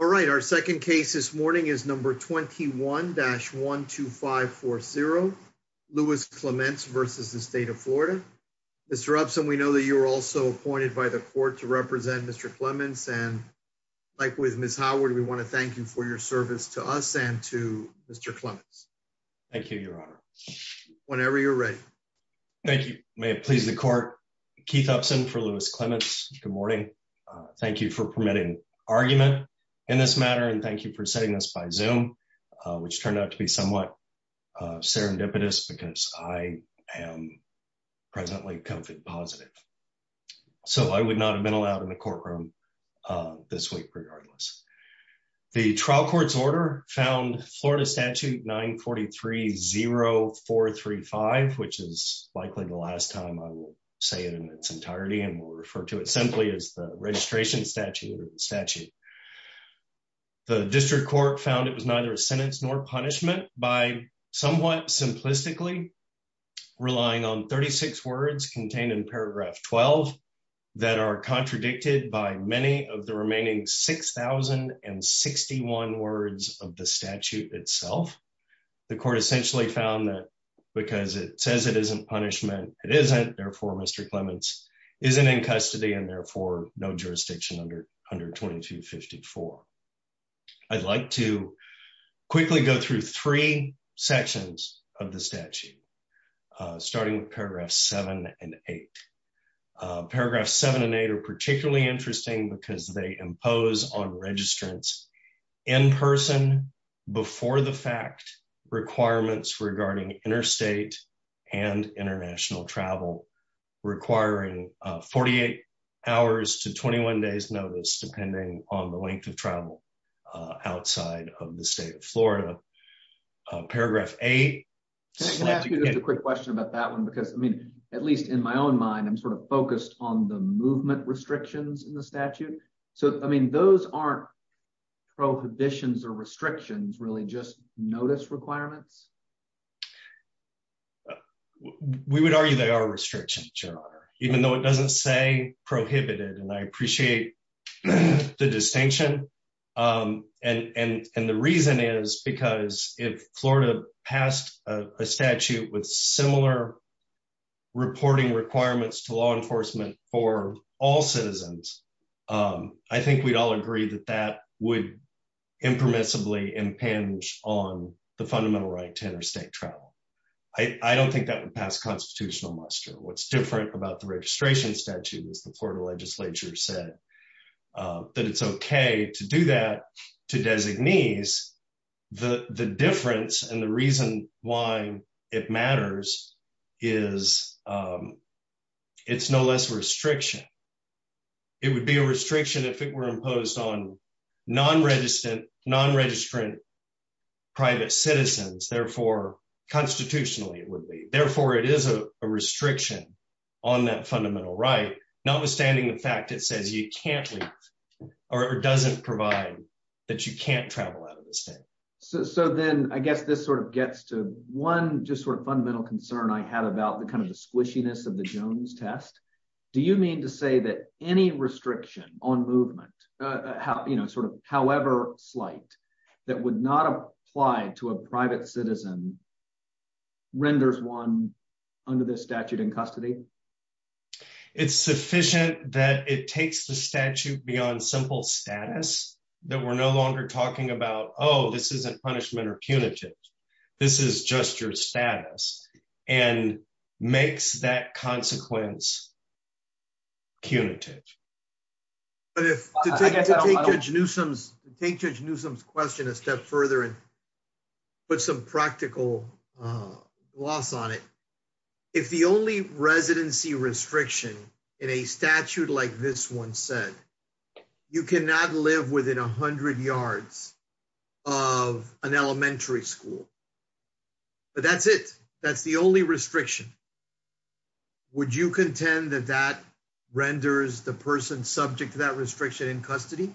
All right, our second case this morning is number 21-12540, Lewis Clements v. State of Florida. Mr. Upson, we know that you were also appointed by the court to represent Mr. Clements, and like with Ms. Howard, we want to thank you for your service to us and to Mr. Clements. Thank you, Your Honor. Whenever you're ready. Thank you. May it please the court. Keith Upson for Lewis Clements. Good morning. Thank you for permitting argument in this matter and thank you for sending us by zoom, which turned out to be somewhat serendipitous because I am presently COVID positive. So I would not have been allowed in the courtroom. This week, regardless. The trial court's order found Florida statute 943-0435, which is likely the last time I will say it in its entirety and will refer to it simply as the registration statute statute. The district court found it was neither a sentence nor punishment by somewhat simplistically relying on 36 words contained in paragraph 12 that are contradicted by many of the remaining 6061 words of the statute itself. The court essentially found that because it says it isn't punishment, it isn't therefore Mr Clements isn't in custody and therefore no jurisdiction under under 2254. I'd like to quickly go through three sections of the statute, starting with paragraph seven and eight. Paragraph seven and eight are particularly interesting because they impose on registrants in person before the fact requirements regarding interstate and international travel requiring 48 hours to 21 days notice depending on the length of travel outside of the state of Florida. Paragraph a question about that one because I mean, at least in my own mind I'm sort of focused on the movement restrictions in the statute. So, I mean, those aren't prohibitions or restrictions really just notice requirements. We would argue they are restrictions, even though it doesn't say prohibited and I appreciate the distinction. And the reason is because if Florida passed a statute with similar reporting requirements to law enforcement for all citizens. I think we'd all agree that that would impermissibly impinge on the fundamental right to interstate travel. I don't think that would pass constitutional muster what's different about the registration statute is the Florida legislature said that it's okay to do that to designees, the, the difference and the reason why it matters is it's no less restriction. It would be a restriction if it were imposed on non registered non registrant private citizens, therefore, constitutionally, it would be, therefore, it is a restriction on that fundamental right, notwithstanding the fact that says you can't or doesn't provide that you can't So then I guess this sort of gets to one just sort of fundamental concern I had about the kind of the squishiness of the Jones test. Do you mean to say that any restriction on movement, how you know sort of, however, slight, that would not apply to a private citizen renders one under this statute in custody. It's sufficient that it takes the statute beyond simple status that we're no longer talking about, oh, this isn't punishment or punitive. This is just your status and makes that consequence punitive. But if to take to take judge Newsom's take judge Newsom's question a step further and put some practical loss on it. If the only residency restriction in a statute like this one said you cannot live within 100 yards of an elementary school. But that's it. That's the only restriction. Would you contend that that renders the person subject to that restriction in custody.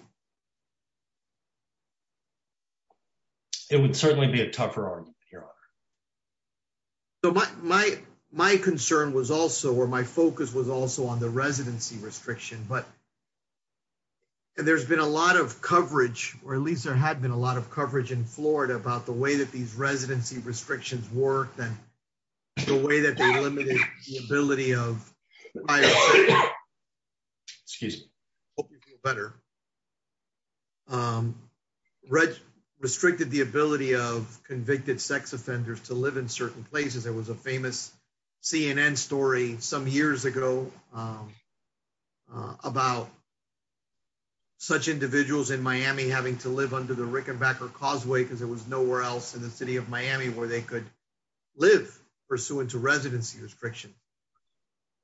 It would certainly be a tougher on your. So my, my, my concern was also where my focus was also on the residency restriction but there's been a lot of coverage, or at least there had been a lot of coverage in Florida about the way that these residency restrictions work and the way that the ability of. Excuse better. Red restricted the ability of convicted sex offenders to live in certain places there was a famous CNN story, some years ago, about such individuals in Miami having to live under the Rickenbacker Causeway because there was nowhere else in the city of Miami where they could live, pursuant to residency restriction.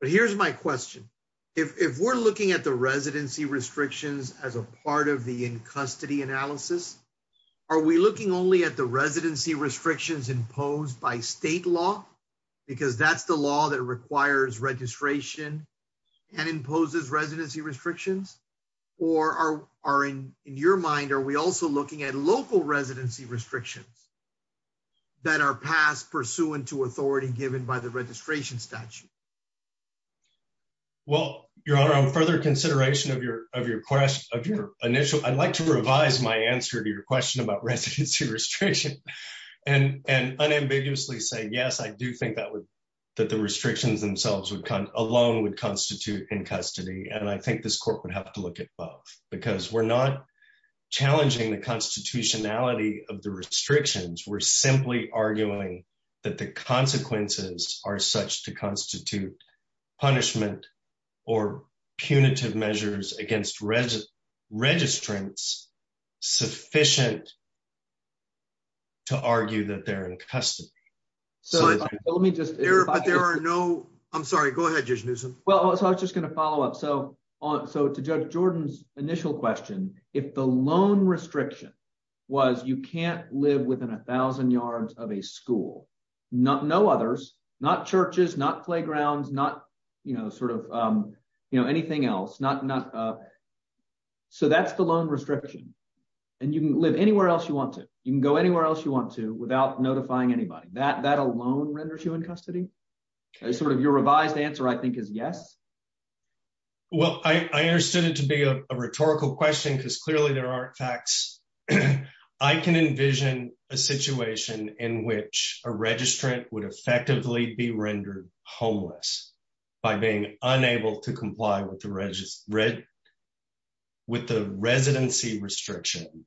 But here's my question. If we're looking at the residency restrictions as a part of the in custody analysis. Are we looking only at the residency restrictions imposed by state law, because that's the law that requires registration and imposes residency restrictions, or are in your mind are we also looking at local residency restrictions that are passed pursuant to authority given by the registration statute. Well, your honor on further consideration of your, of your question of your initial I'd like to revise my answer to your question about residency restriction and and unambiguously say yes I do think that would that the restrictions themselves would come alone would constitute in custody and I think this court would have to look at both, because we're not challenging the constitutionality of the restrictions were simply arguing that the consequences are such to constitute punishment or punitive measures against residents registrants sufficient to argue that they're in custody. So let me just there but there are no, I'm sorry, go ahead. Well, I was just going to follow up so on so to judge Jordan's initial question, if the loan restriction was you can't live within 1000 yards of a school. Not no others, not churches not playgrounds not, you know, sort of, you know, anything else not not. So that's the loan restriction. And you can live anywhere else you want to, you can go anywhere else you want to without notifying anybody that that alone renders you in custody. I sort of your revised answer I think is yes. Well, I understood it to be a rhetorical question because clearly there aren't facts. I can envision a situation in which a registrant would effectively be rendered homeless by being unable to comply with the register read with the residency restriction,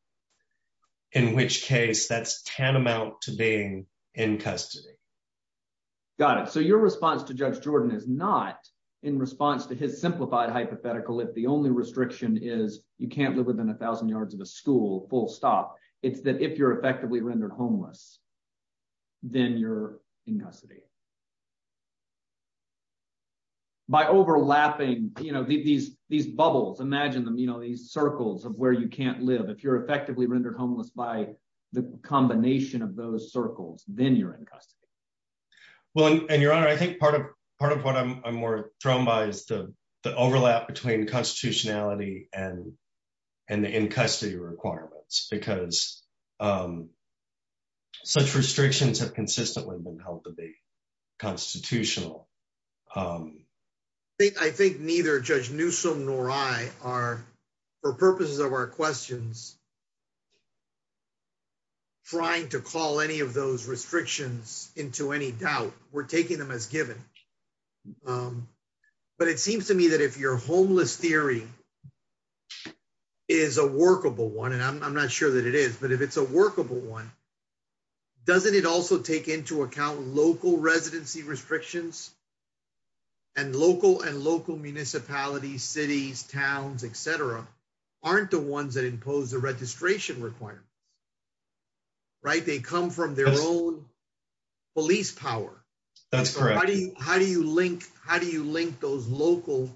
in which case that's tantamount to being in custody. Got it. So your response to judge Jordan is not in response to his simplified hypothetical if the only restriction is, you can't live within 1000 yards of a school full stop. It's that if you're effectively rendered homeless. Then you're in custody. By overlapping, you know, these, these bubbles imagine them you know these circles of where you can't live if you're effectively rendered homeless by the combination of those circles, then you're in custody. Well, and your honor I think part of part of what I'm more thrown by is the overlap between constitutionality and, and the in custody requirements because such restrictions have consistently been held to be constitutional. I think I think neither judge Newsome nor I are for purposes of our questions, trying to call any of those restrictions into any doubt, we're taking them as given. But it seems to me that if you're homeless theory is a workable one and I'm not sure that it is but if it's a workable one. Doesn't it also take into account local residency restrictions and local and local municipalities cities, towns, etc. Aren't the ones that impose the registration requirement. Right, they come from their own police power. That's correct. How do you, how do you link, how do you link those local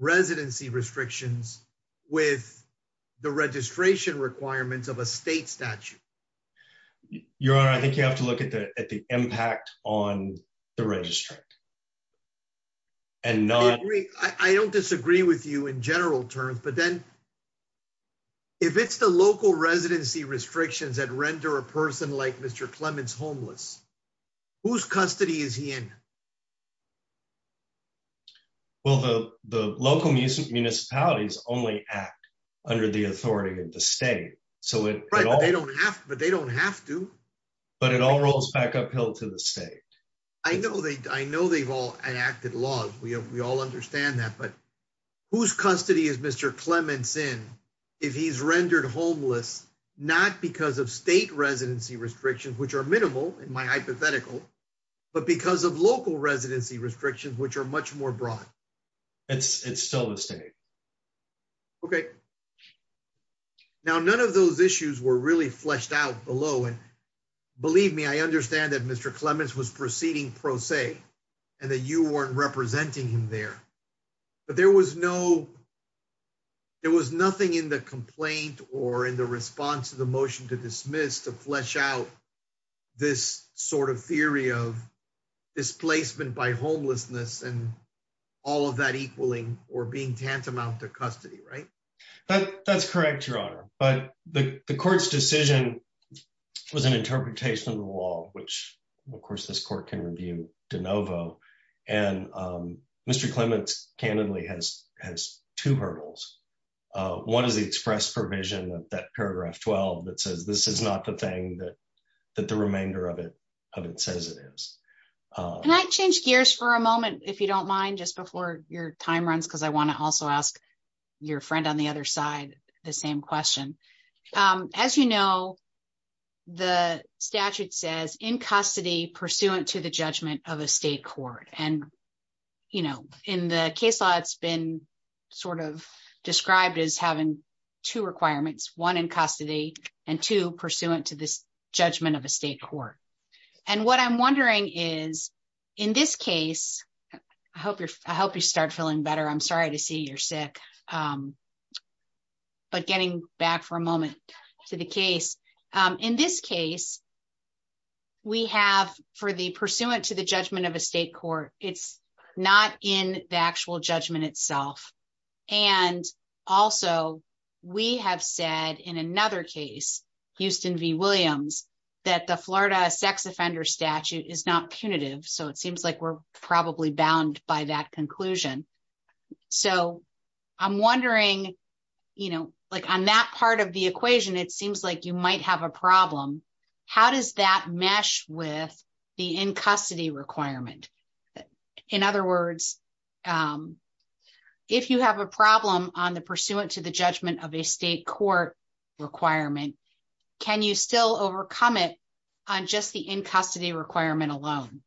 residency restrictions with the registration requirements of a state statute. Your honor, I think you have to look at the, at the impact on the registry. And not, I don't disagree with you in general terms but then if it's the local residency restrictions that render a person like Mr Clemens homeless. Whose custody is he in. Well, the, the local music municipalities only act under the authority of the state. So, they don't have, but they don't have to, but it all rolls back uphill to the state. I know they, I know they've all enacted laws we have we all understand that but whose custody is Mr Clemens in if he's rendered homeless, not because of state residency restrictions which are minimal in my hypothetical. But because of local residency restrictions which are much more broad. It's still a state. Okay. Now none of those issues were really fleshed out below and believe me I understand that Mr Clemens was proceeding pro se, and then you weren't representing him there. But there was no. There was nothing in the complaint, or in the response to the motion to dismiss to flesh out this sort of theory of displacement by homelessness and all of that equaling, or being tantamount to custody right. That's correct, Your Honor, but the courts decision was an interpretation of the law, which, of course, this court can review de novo, and Mr Clemens candidly has has two hurdles. One is the express provision that paragraph 12 that says this is not the thing that that the remainder of it says it is. And I changed gears for a moment, if you don't mind just before your time runs because I want to also ask your friend on the other side, the same question. As you know, the statute says in custody pursuant to the judgment of a state court and, you know, in the case law it's been sort of described as having two requirements one in custody, and to pursuant to this judgment of a state court. And what I'm wondering is, in this case, I hope you're, I hope you start feeling better I'm sorry to see you're sick. But getting back for a moment to the case. In this case, we have for the pursuant to the judgment of a state court, it's not in the actual judgment itself. And also, we have said in another case, Houston V Williams, that the Florida sex offender statute is not punitive so it seems like we're probably bound by that conclusion. So, I'm wondering, you know, like on that part of the equation it seems like you might have a problem. How does that mesh with the in custody requirement. In other words, if you have a problem on the pursuant to the judgment of a state court requirement. Can you still overcome it on just the in custody requirement alone.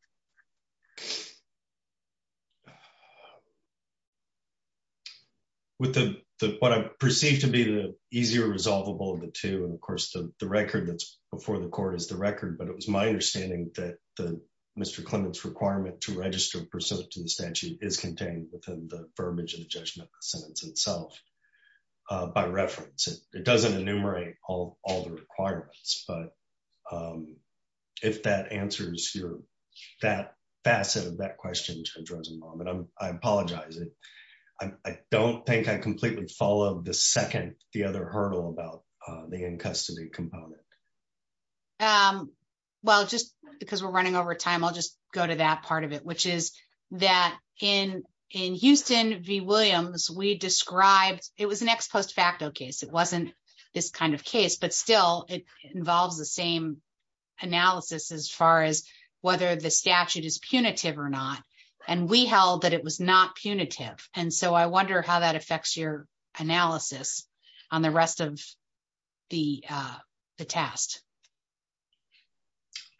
With the, what I perceive to be the easier resolvable the two and of course the record that's before the court is the record but it was my understanding that the Mr. Clinton's requirement to register pursuit to the statute is contained within the verbiage of the judgment sentence itself. By reference, it doesn't enumerate all all the requirements but if that answers your that facet of that question to address a moment I'm, I apologize. I don't think I completely follow the second, the other hurdle about the in custody component. Well, just because we're running over time I'll just go to that part of it which is that in in Houston V Williams we described, it was an ex post facto case it wasn't this kind of case but still, it involves the same analysis as far as whether the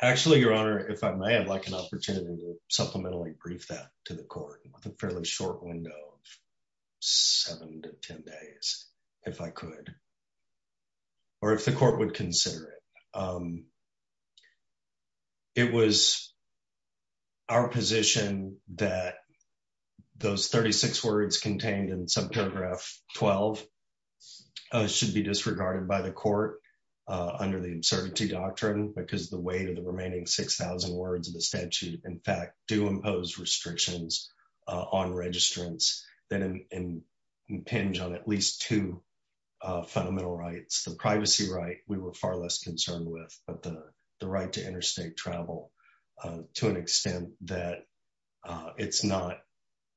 Actually, Your Honor, if I may have like an opportunity to supplementally brief that to the court with a fairly short window of seven to 10 days, if I could, or if the court would consider it. It was our position that those 36 words contained in some paragraph 12 should be disregarded by the court under the uncertainty doctrine, because the way to the remaining 6000 words of the statute, in fact, do impose restrictions on registrants that impinge on at least two fundamental rights, the privacy right, we were far less concerned with, but the right to interstate travel, to an extent that it's not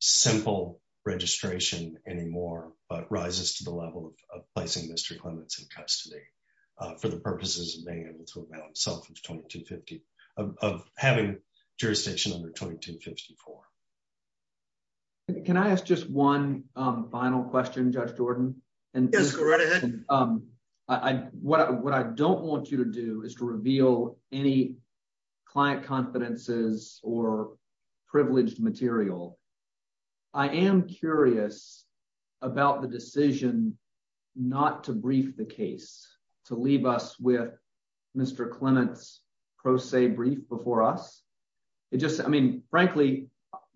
simple registration anymore, but rises to the level of placing Mr Clements in custody for the purposes of of having jurisdiction under 2254. Can I ask just one final question, Judge Jordan, and what I don't want you to do is to reveal any client confidences or privileged material. I am curious about the decision not to brief the case to leave us with Mr Clements pro se brief before us. It just I mean, frankly,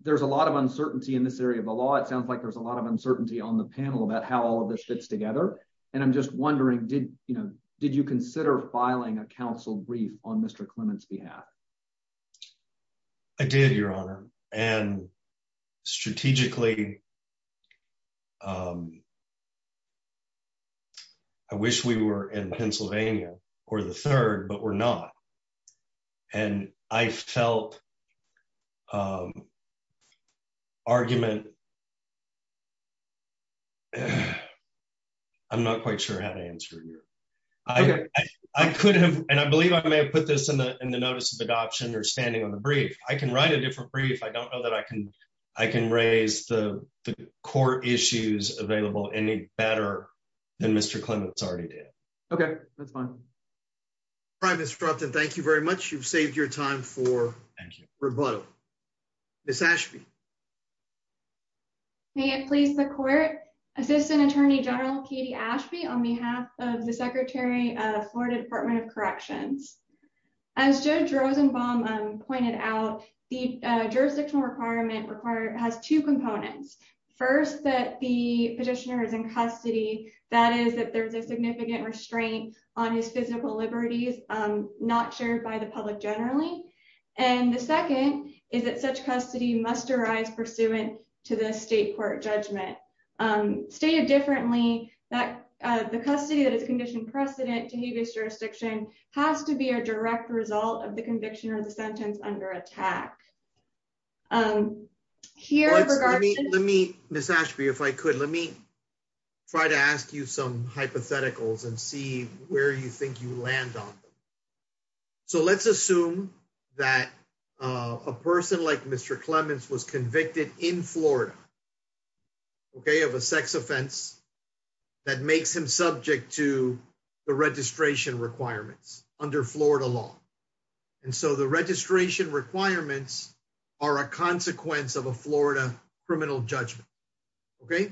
there's a lot of uncertainty in this area of the law it sounds like there's a lot of uncertainty on the panel about how all of this fits together. And I'm just wondering, did you know, did you consider filing a counsel brief on Mr Clements behalf. I did, Your Honor, and strategically. I wish we were in Pennsylvania, or the third but we're not. And I felt argument. I'm not quite sure how to answer you. I could have, and I believe I may have put this in the, in the notice of adoption or standing on the brief, I can write a different brief I don't know that I can, I can raise the core issues available any better than Mr Clements already did. Okay, that's fine. Thank you very much. You've saved your time for rebuttal. Miss Ashby. May it please the court, Assistant Attorney General Katie Ashby on behalf of the Secretary of Florida Department of Corrections. As Joe Rosenbaum pointed out, the jurisdictional requirement required has two components. First, that the petitioner is in custody, that is that there's a significant restraint on his physical liberties, not shared by the public generally. And the second is that such custody must arise pursuant to the state court judgment stated differently, that the custody that is conditioned precedent to his jurisdiction has to be a direct result of the conviction or the sentence under attack here. Let me, Miss Ashby if I could let me try to ask you some hypotheticals and see where you think you land on. So let's assume that a person like Mr Clements was convicted in Florida. Okay, of a sex offense. That makes him subject to the registration requirements under Florida law. And so the registration requirements are a consequence of a Florida criminal judgment. Okay.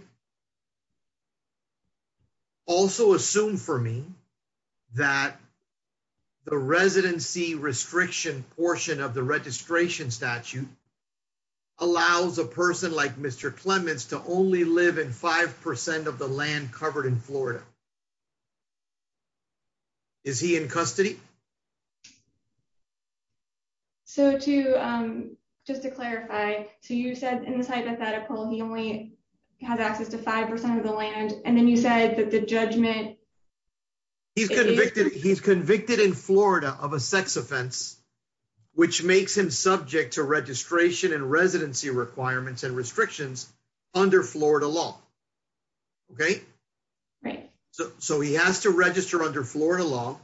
Also assume for me that the residency restriction portion of the registration statute allows a person like Mr Clements to only live in 5% of the land covered in Florida. Is he in custody. So to just to clarify, so you said in this hypothetical he only has access to 5% of the land, and then you said that the judgment. He's convicted he's convicted in Florida of a sex offense, which makes him subject to registration and residency requirements and restrictions under Florida law. Okay. Right. So, so he has to register under Florida law,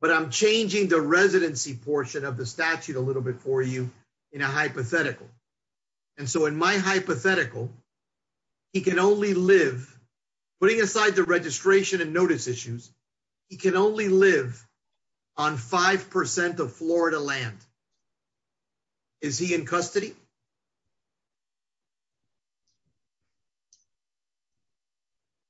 but I'm changing the residency portion of the statute a little bit for you in a hypothetical. And so in my hypothetical. He can only live, putting aside the registration and notice issues. He can only live on 5% of Florida land. Is he in custody.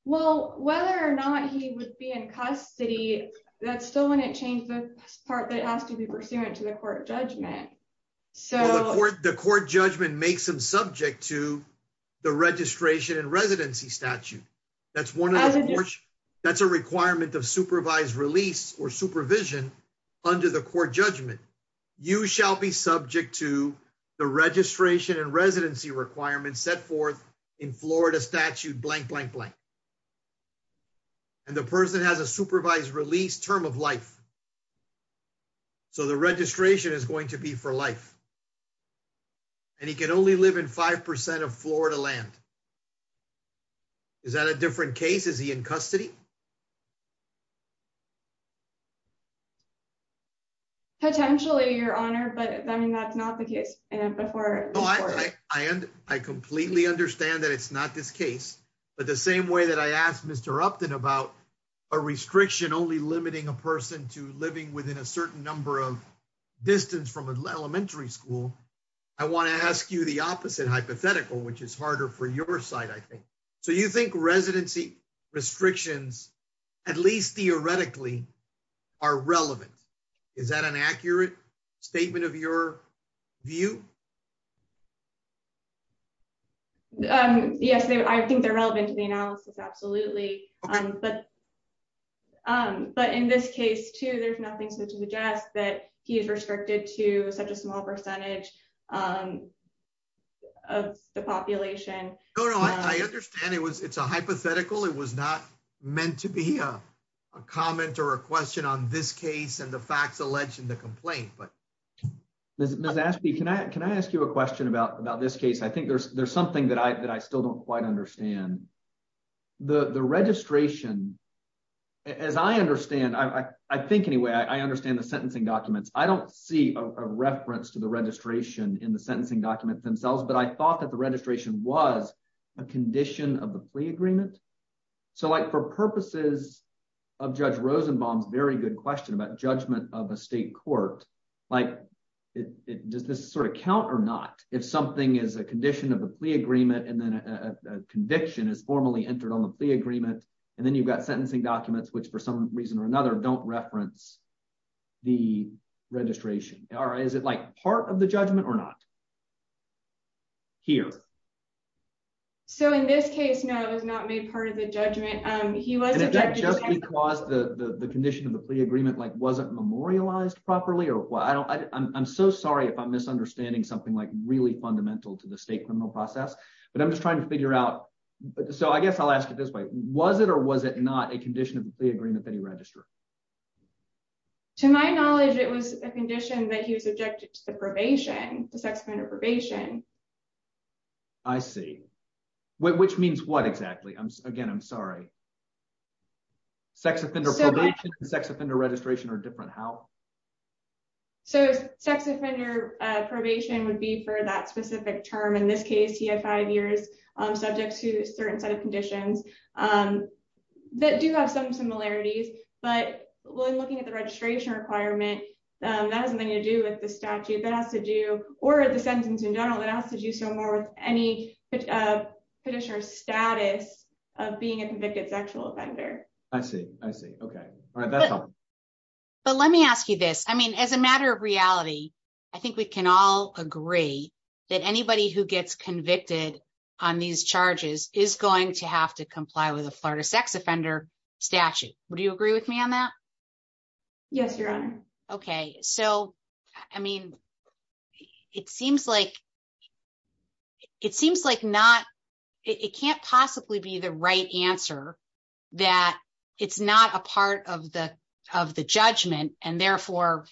Well, whether or not he would be in custody. That's still wouldn't change the part that has to be pursuant to the court judgment. So, the court judgment makes them subject to the registration and residency statute. That's one. That's a requirement of supervised release or supervision under the court judgment, you shall be subject to the registration and residency requirements set forth in Florida statute blank blank blank. And the person has a supervised release term of life. So the registration is going to be for life. And he can only live in 5% of Florida land. Is that a different case is he in custody. Potentially your honor but I mean that's not the case. And before I, I completely understand that it's not this case, but the same way that I asked Mr Upton about a restriction only limiting a person to living within a certain number of distance from elementary school. I want to ask you the opposite hypothetical which is harder for your side I think. So you think residency restrictions, at least theoretically are relevant. Is that an accurate statement of your view. Um, yes, I think they're relevant to the analysis. Absolutely. Um, but, um, but in this case to there's nothing to suggest that he's restricted to such a small percentage of the population. No, no, I understand it was it's a hypothetical it was not meant to be a comment or a question on this case and the facts alleged in the complaint but there's a nasty Can I can I ask you a question about about this case I think there's there's something that I that I still don't quite understand the registration. As I understand I think anyway I understand the sentencing documents, I don't see a reference to the registration in the sentencing documents themselves but I thought that the registration was a condition of the plea agreement. So like for purposes of judge Rosenbaum's very good question about judgment of a state court, like it does this sort of count or not, if something is a condition of the plea agreement and then a conviction is formally entered on the agreement. And then you've got sentencing documents which for some reason or another don't reference the registration, or is it like part of the judgment or not here. So in this case, no, it was not made part of the judgment. He was just because the condition of the plea agreement like wasn't memorialized properly or what I don't, I'm so sorry if I'm misunderstanding something like really fundamental to the state criminal process, but I'm just trying to figure out. So I guess I'll ask you this way, was it or was it not a condition of the agreement that he registered. To my knowledge, it was a condition that he was objected to the probation, the sex offender probation. I see. Which means what exactly I'm again I'm sorry. Sex offender sex offender registration or different how. So, sex offender probation would be for that specific term in this case he had five years, subject to certain set of conditions that do have some similarities, but when looking at the registration requirement. That has nothing to do with the statute that has to do, or the sentence in general that has to do so more with any condition or status of being a convicted sexual offender. I see, I see. Okay. But let me ask you this, I mean as a matter of reality. I think we can all agree that anybody who gets convicted on these charges is going to have to comply with the Florida sex offender statute, would you agree with me on that. Yes, Your Honor. Okay, so, I mean, it seems like it seems like not. It can't possibly be the right answer that it's not a part of the, of the judgment, and therefore,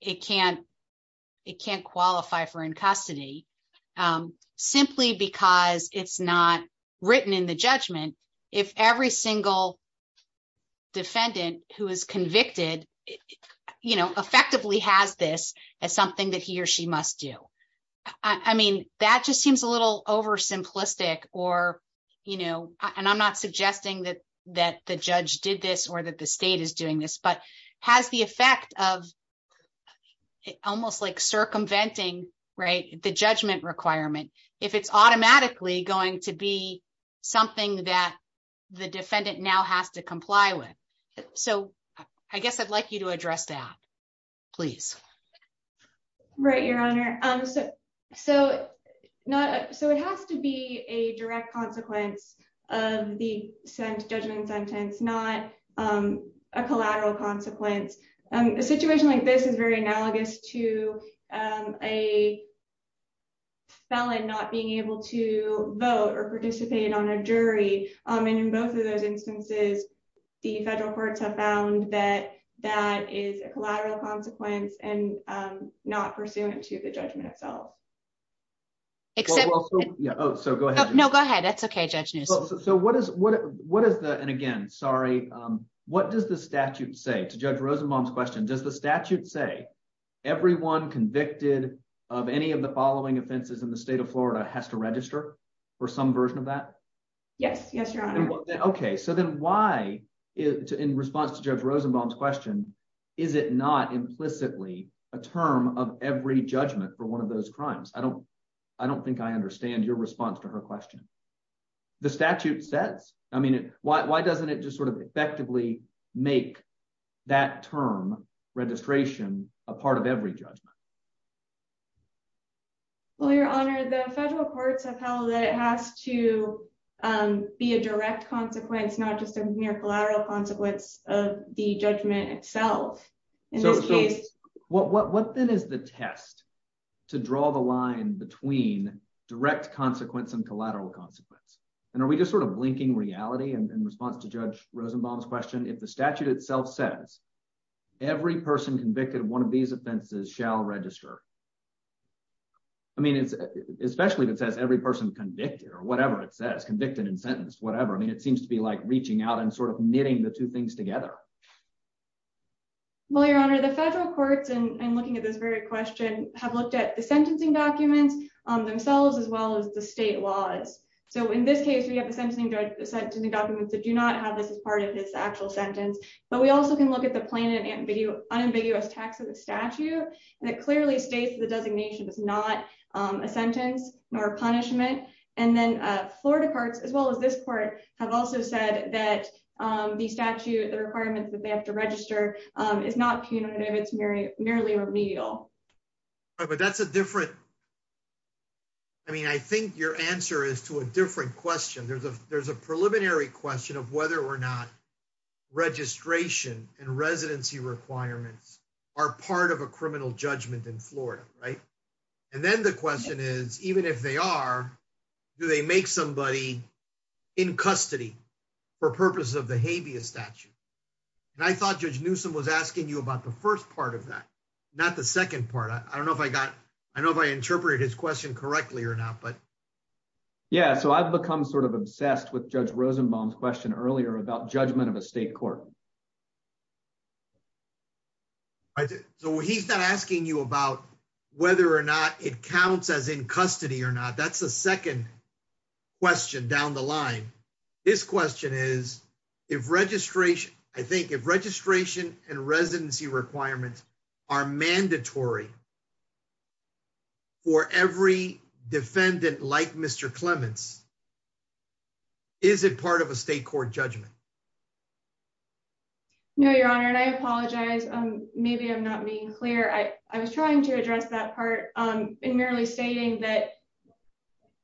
it can't. It can't qualify for in custody, simply because it's not written in the judgment. If every single defendant who is convicted, you know, effectively has this as something that he or she must do. I mean, that just seems a little over simplistic, or, you know, and I'm not suggesting that that the judge did this or that the state is doing this but has the effect of almost like circumventing right the judgment requirement. If it's automatically going to be something that the defendant now has to comply with. So, I guess I'd like you to address that, please. Right, Your Honor. So, not so it has to be a direct consequence of the sent judgment sentence not a collateral consequence, and the situation like this is very analogous to a felon not being able to vote or participate on a jury, and in both of those instances, the federal courts have found that that is a collateral consequence and not pursuant to the judgment itself. So go ahead. No, go ahead. That's okay. So what is what, what is the and again sorry. What does the statute say to judge Rosenbaum's question does the statute say everyone convicted of any of the following offenses in the state of Florida has to register for some version of that. Yes, yes, Your Honor. Okay, so then why is in response to judge Rosenbaum's question. Is it not implicitly a term of every judgment for one of those crimes I don't, I don't think I understand your response to her question. The statute says, I mean, why doesn't it just sort of effectively make that term registration, a part of every judgment. Well, Your Honor, the federal courts have held that it has to be a direct consequence not just a mere collateral consequence of the judgment itself. So, what then is the test to draw the line between direct consequence and collateral consequence. And are we just sort of blinking reality and response to judge Rosenbaum's question if the statute itself says every person convicted one of these offenses shall register. I mean, especially if it says every person convicted or whatever it says convicted and sentenced whatever I mean it seems to be like reaching out and sort of knitting the two things together. Well, Your Honor, the federal courts and looking at this very question, have looked at the sentencing documents on themselves as well as the state laws. So in this case we have a sentencing judge sent to the documents that do not have this as part of this actual sentence, but we also can look at the planet and video unambiguous tax of the statute, and it clearly states the designation is not a sentence or punishment, and then Florida parts as well as this court have also said that the statute the requirements that they have to register is not punitive it's very nearly remedial. But that's a different. I mean I think your answer is to a different question there's a there's a preliminary question of whether or not registration and residency requirements are part of a criminal judgment in Florida, right. And then the question is, even if they are. Do they make somebody in custody for purposes of the habeas statute. And I thought just knew some was asking you about the first part of that, not the second part I don't know if I got. I know if I interpret his question correctly or not but. Yeah, so I've become sort of obsessed with Judge Rosenbaum question earlier about judgment of a state court. So he's not asking you about whether or not it counts as in custody or not that's the second question down the line. This question is, if registration, I think if registration and residency requirements are mandatory. For every defendant like Mr Clements. Is it part of a state court judgment. No, Your Honor and I apologize. Maybe I'm not being clear I was trying to address that part in merely stating that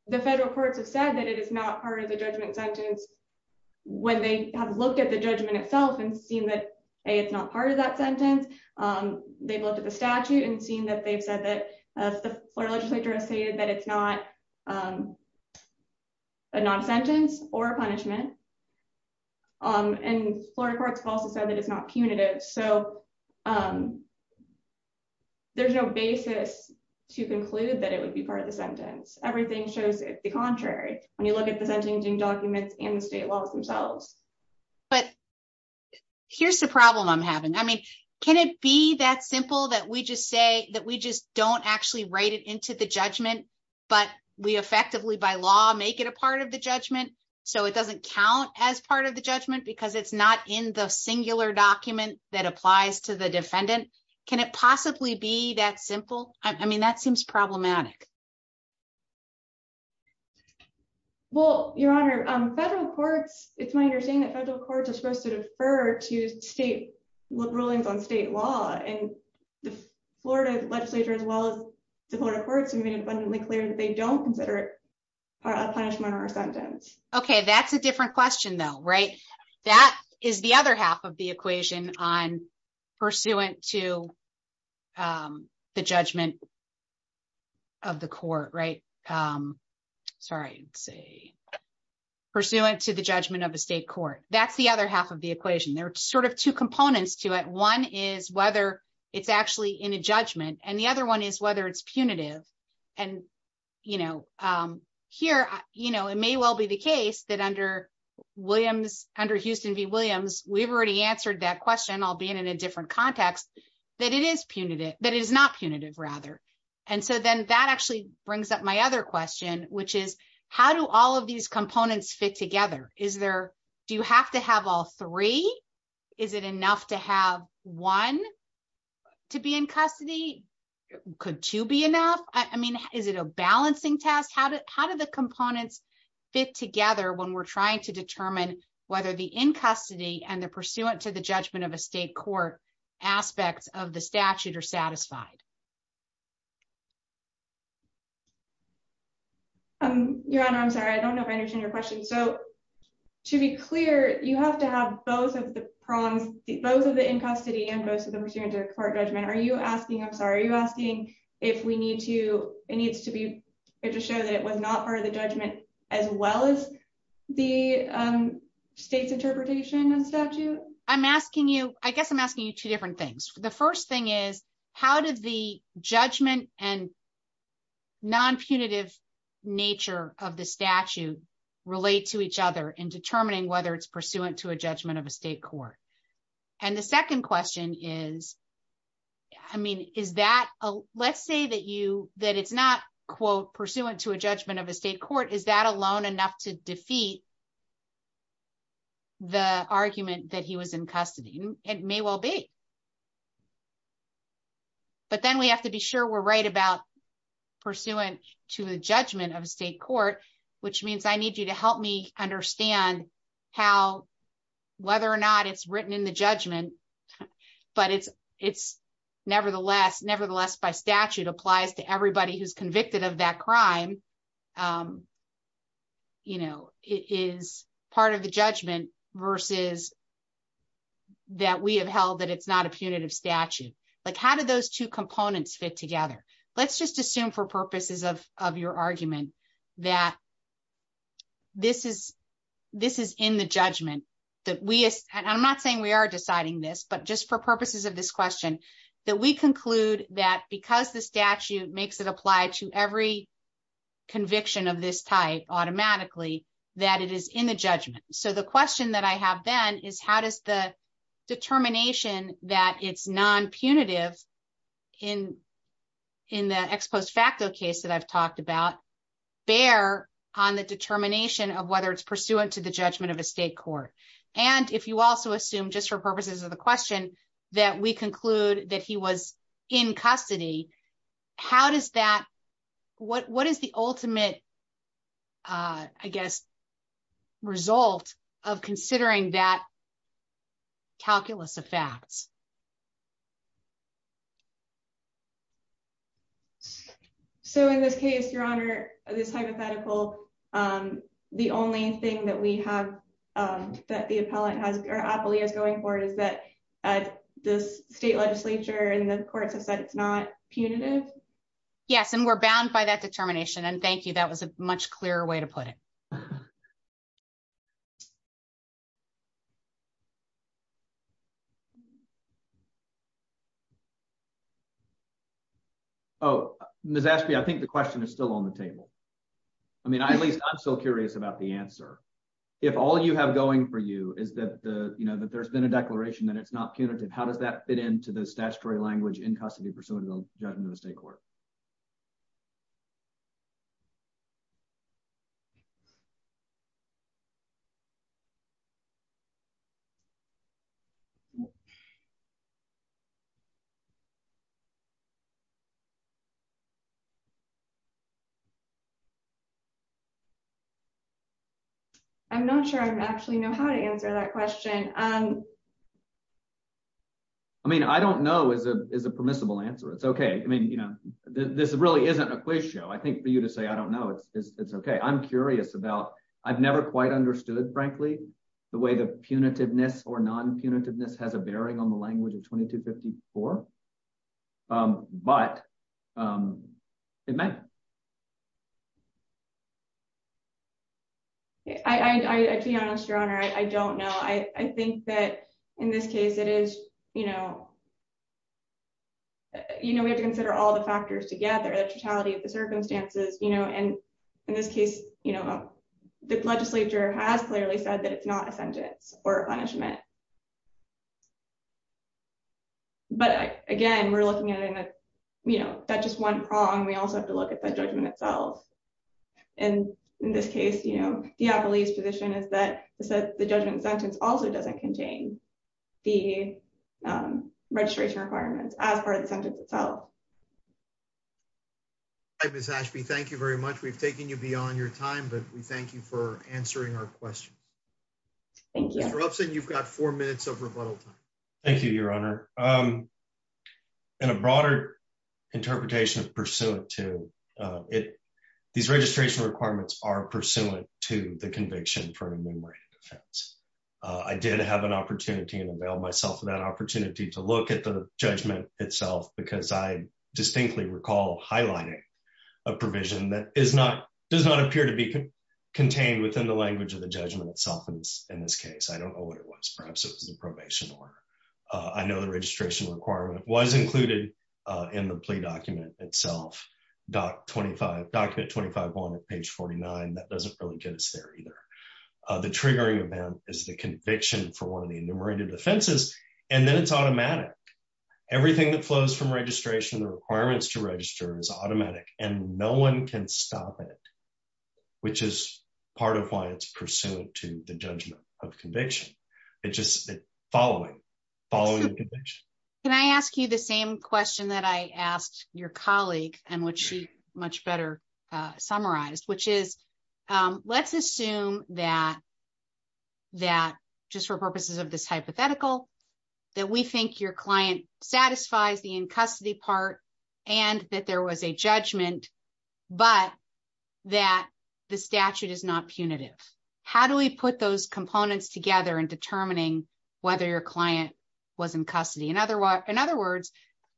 the federal courts have said that it is not part of the judgment sentence. When they have looked at the judgment itself and seen that it's not part of that sentence. They've looked at the statute and seen that they've said that the legislature has stated that it's not a non sentence or punishment. And Florida courts have also said that it's not punitive so there's no basis to conclude that it would be part of the sentence, everything shows the contrary. When you look at the sentencing documents in the state laws themselves. But here's the problem I'm having I mean, can it be that simple that we just say that we just don't actually write it into the judgment, but we effectively by law make it a part of the judgment, so it doesn't count as part of the judgment because it's not in the singular document that applies to the defendant. Can it possibly be that simple. I mean that seems problematic. Well, Your Honor, federal courts, it's my understanding that federal courts are supposed to defer to state rulings on state law and the Florida legislature as well as the Florida courts have been abundantly clear that they don't consider it a punishment or sentence. Okay, that's a different question though right. That is the other half of the equation on pursuant to the judgment of the court right. Sorry, say, pursuant to the judgment of the state court, that's the other half of the equation they're sort of two components to it one is whether it's actually in a judgment and the other one is whether it's punitive. And, you know, here, you know, it may well be the case that under Williams under Houston V Williams, we've already answered that question I'll be in in a different context that it is punitive, that is not punitive rather. And so then that actually brings up my other question, which is, how do all of these components fit together, is there. Do you have to have all three. Is it enough to have one to be in custody. Could to be enough. I mean, is it a balancing test how did how did the components fit together when we're trying to determine whether the in custody and the pursuant to the judgment of a state court aspects of the statute are satisfied. Um, your honor I'm sorry I don't know if I understand your question. So, to be clear, you have to have both of the prongs, both of the in custody and both of the pursuant to court judgment are you asking I'm sorry you asking if we need to, it needs to be to show that it was not part of the judgment, as well as the state's interpretation of statute. I'm asking you, I guess I'm asking you two different things. The first thing is, how did the judgment and non punitive nature of the statute relate to each other and determining whether it's pursuant to a judgment of a state court. And the second question is, I mean, is that a, let's say that you that it's not quote pursuant to a judgment of a state court is that alone enough to defeat the argument that he was in custody, it may well be. But then we have to be sure we're right about pursuant to the judgment of state court, which means I need you to help me understand how, whether or not it's written in the judgment. But it's, it's, nevertheless, nevertheless by statute applies to everybody who's convicted of that crime. You know, it is part of the judgment versus that we have held that it's not a punitive statute, like how did those two components fit together. Let's just assume for purposes of your argument that this is this is in the judgment that we, and I'm not saying we are deciding this but just for purposes of this question that we conclude that because the statute makes it apply to every conviction of this type, automatically, that it is in the judgment. So the question that I have then is how does the determination that it's non punitive in in the ex post facto case that I've talked about bear on the determination of whether it's pursuant to the judgment of a state court. And if you also assume just for purposes of the question that we conclude that he was in custody. How does that. What is the ultimate, I guess, result of considering that calculus of facts. So in this case, Your Honor, this hypothetical. The only thing that we have that the appellate has ouropoly is going forward is that this state legislature and the courts have said it's not punitive. Yes, and we're bound by that determination and thank you that was a much clearer way to put it. Thank you. Oh, Miss asked me I think the question is still on the table. I mean I at least I'm still curious about the answer. If all you have going for you is that the you know that there's been a declaration that it's not punitive How does that fit into the statutory language in custody pursuant to the judgment of the state court. I'm not sure I'm actually know how to answer that question. I mean I don't know is a permissible answer it's okay. I mean, you know, this really isn't a quiz show I think for you to say I don't know it's okay I'm curious about. I've never quite understood frankly, the way the punitiveness or non punitiveness has a bearing on the language of 2254. But it may. I'd be honest your honor I don't know I think that in this case it is, you know, you know, we have to consider all the factors together the totality of the circumstances, you know, and in this case, you know, the legislature has clearly said that it's not a sentence or punishment. But, again, we're looking at in a, you know, that just one prong we also have to look at the judgment itself. And in this case, you know, yeah police position is that the judgment sentence also doesn't contain the registration requirements as part of the sentence itself. I was actually thank you very much we've taken you beyond your time but we thank you for answering our question. You've got four minutes of rebuttal. Thank you, Your Honor. In a broader interpretation of pursuant to it. These registration requirements are pursuant to the conviction for an enumerated defense. I did have an opportunity and avail myself of that opportunity to look at the judgment itself because I distinctly recall highlighting a provision that is not does not appear to be contained within the language of the judgment itself and in this case I don't know what it was perhaps it was the probation order. I know the registration requirement was included in the plea document itself. Doc 25 document 25 on page 49 that doesn't really get us there either. The triggering event is the conviction for one of the enumerated offenses, and then it's automatic. Everything that flows from registration requirements to register is automatic, and no one can stop it, which is part of why it's pursuant to the judgment of conviction. It just following following. Can I ask you the same question that I asked your colleague, and what she much better summarized which is, let's assume that that just for purposes of this hypothetical that we think your client satisfies the in custody part, and that there was a judgment, but that the statute is not punitive. How do we put those components together and determining whether your client was in custody and otherwise, in other words,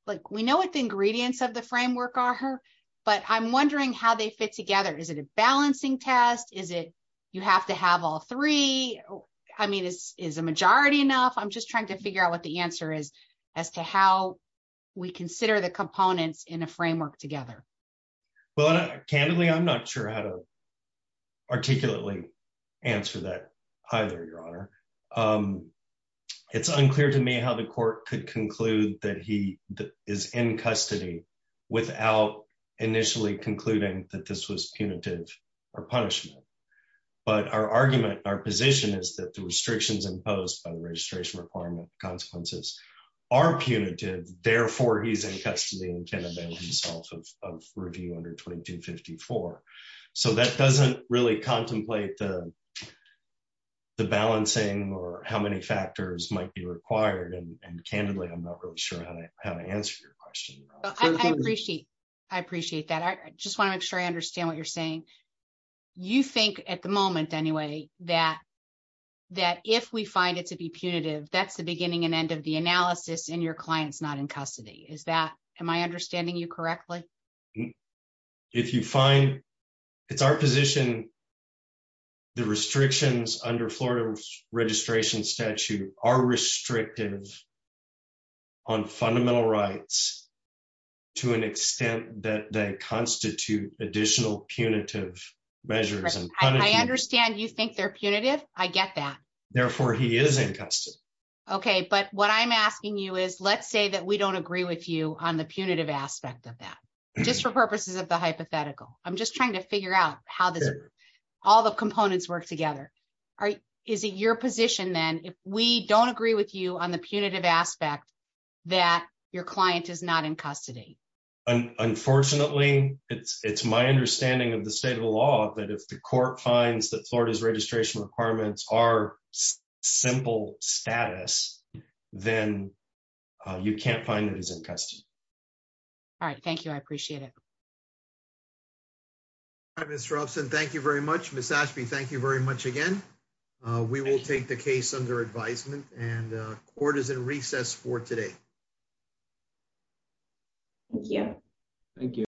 like we know what the ingredients of the framework are her, but I'm wondering how they fit together is it a balancing test is it, you have to have all three. I mean this is a majority enough I'm just trying to figure out what the answer is, as to how we consider the components in a framework together. Well, candidly I'm not sure how to articulately answer that either your honor. It's unclear to me how the court could conclude that he is in custody, without initially concluding that this was punitive or punishment. But our argument, our position is that the restrictions imposed by the registration requirement consequences are punitive, therefore he's in custody and can avail himself of review under 2254. So that doesn't really contemplate the balancing or how many factors might be required and candidly I'm not really sure how to answer your question. I appreciate. I appreciate that I just want to make sure I understand what you're saying. You think at the moment anyway, that, that if we find it to be punitive that's the beginning and end of the analysis and your clients not in custody is that, am I understanding you correctly. If you find it's our position, the restrictions under Florida registration statute are restrictive on fundamental rights, to an extent that they constitute additional punitive measures and I understand you think they're punitive, I get that. Therefore, he is in custody. Okay, but what I'm asking you is let's say that we don't agree with you on the punitive aspect of that, just for purposes of the hypothetical, I'm just trying to figure out how this all the components work together. Is it your position then if we don't agree with you on the punitive aspect that your client is not in custody. Unfortunately, it's, it's my understanding of the state of the law that if the court finds that Florida's registration requirements are simple status, then you can't find it as in custody. All right. Thank you. I appreciate it. I'm interested. Thank you very much. Thank you very much again. We will take the case under advisement and quarters and recess for today. Yeah.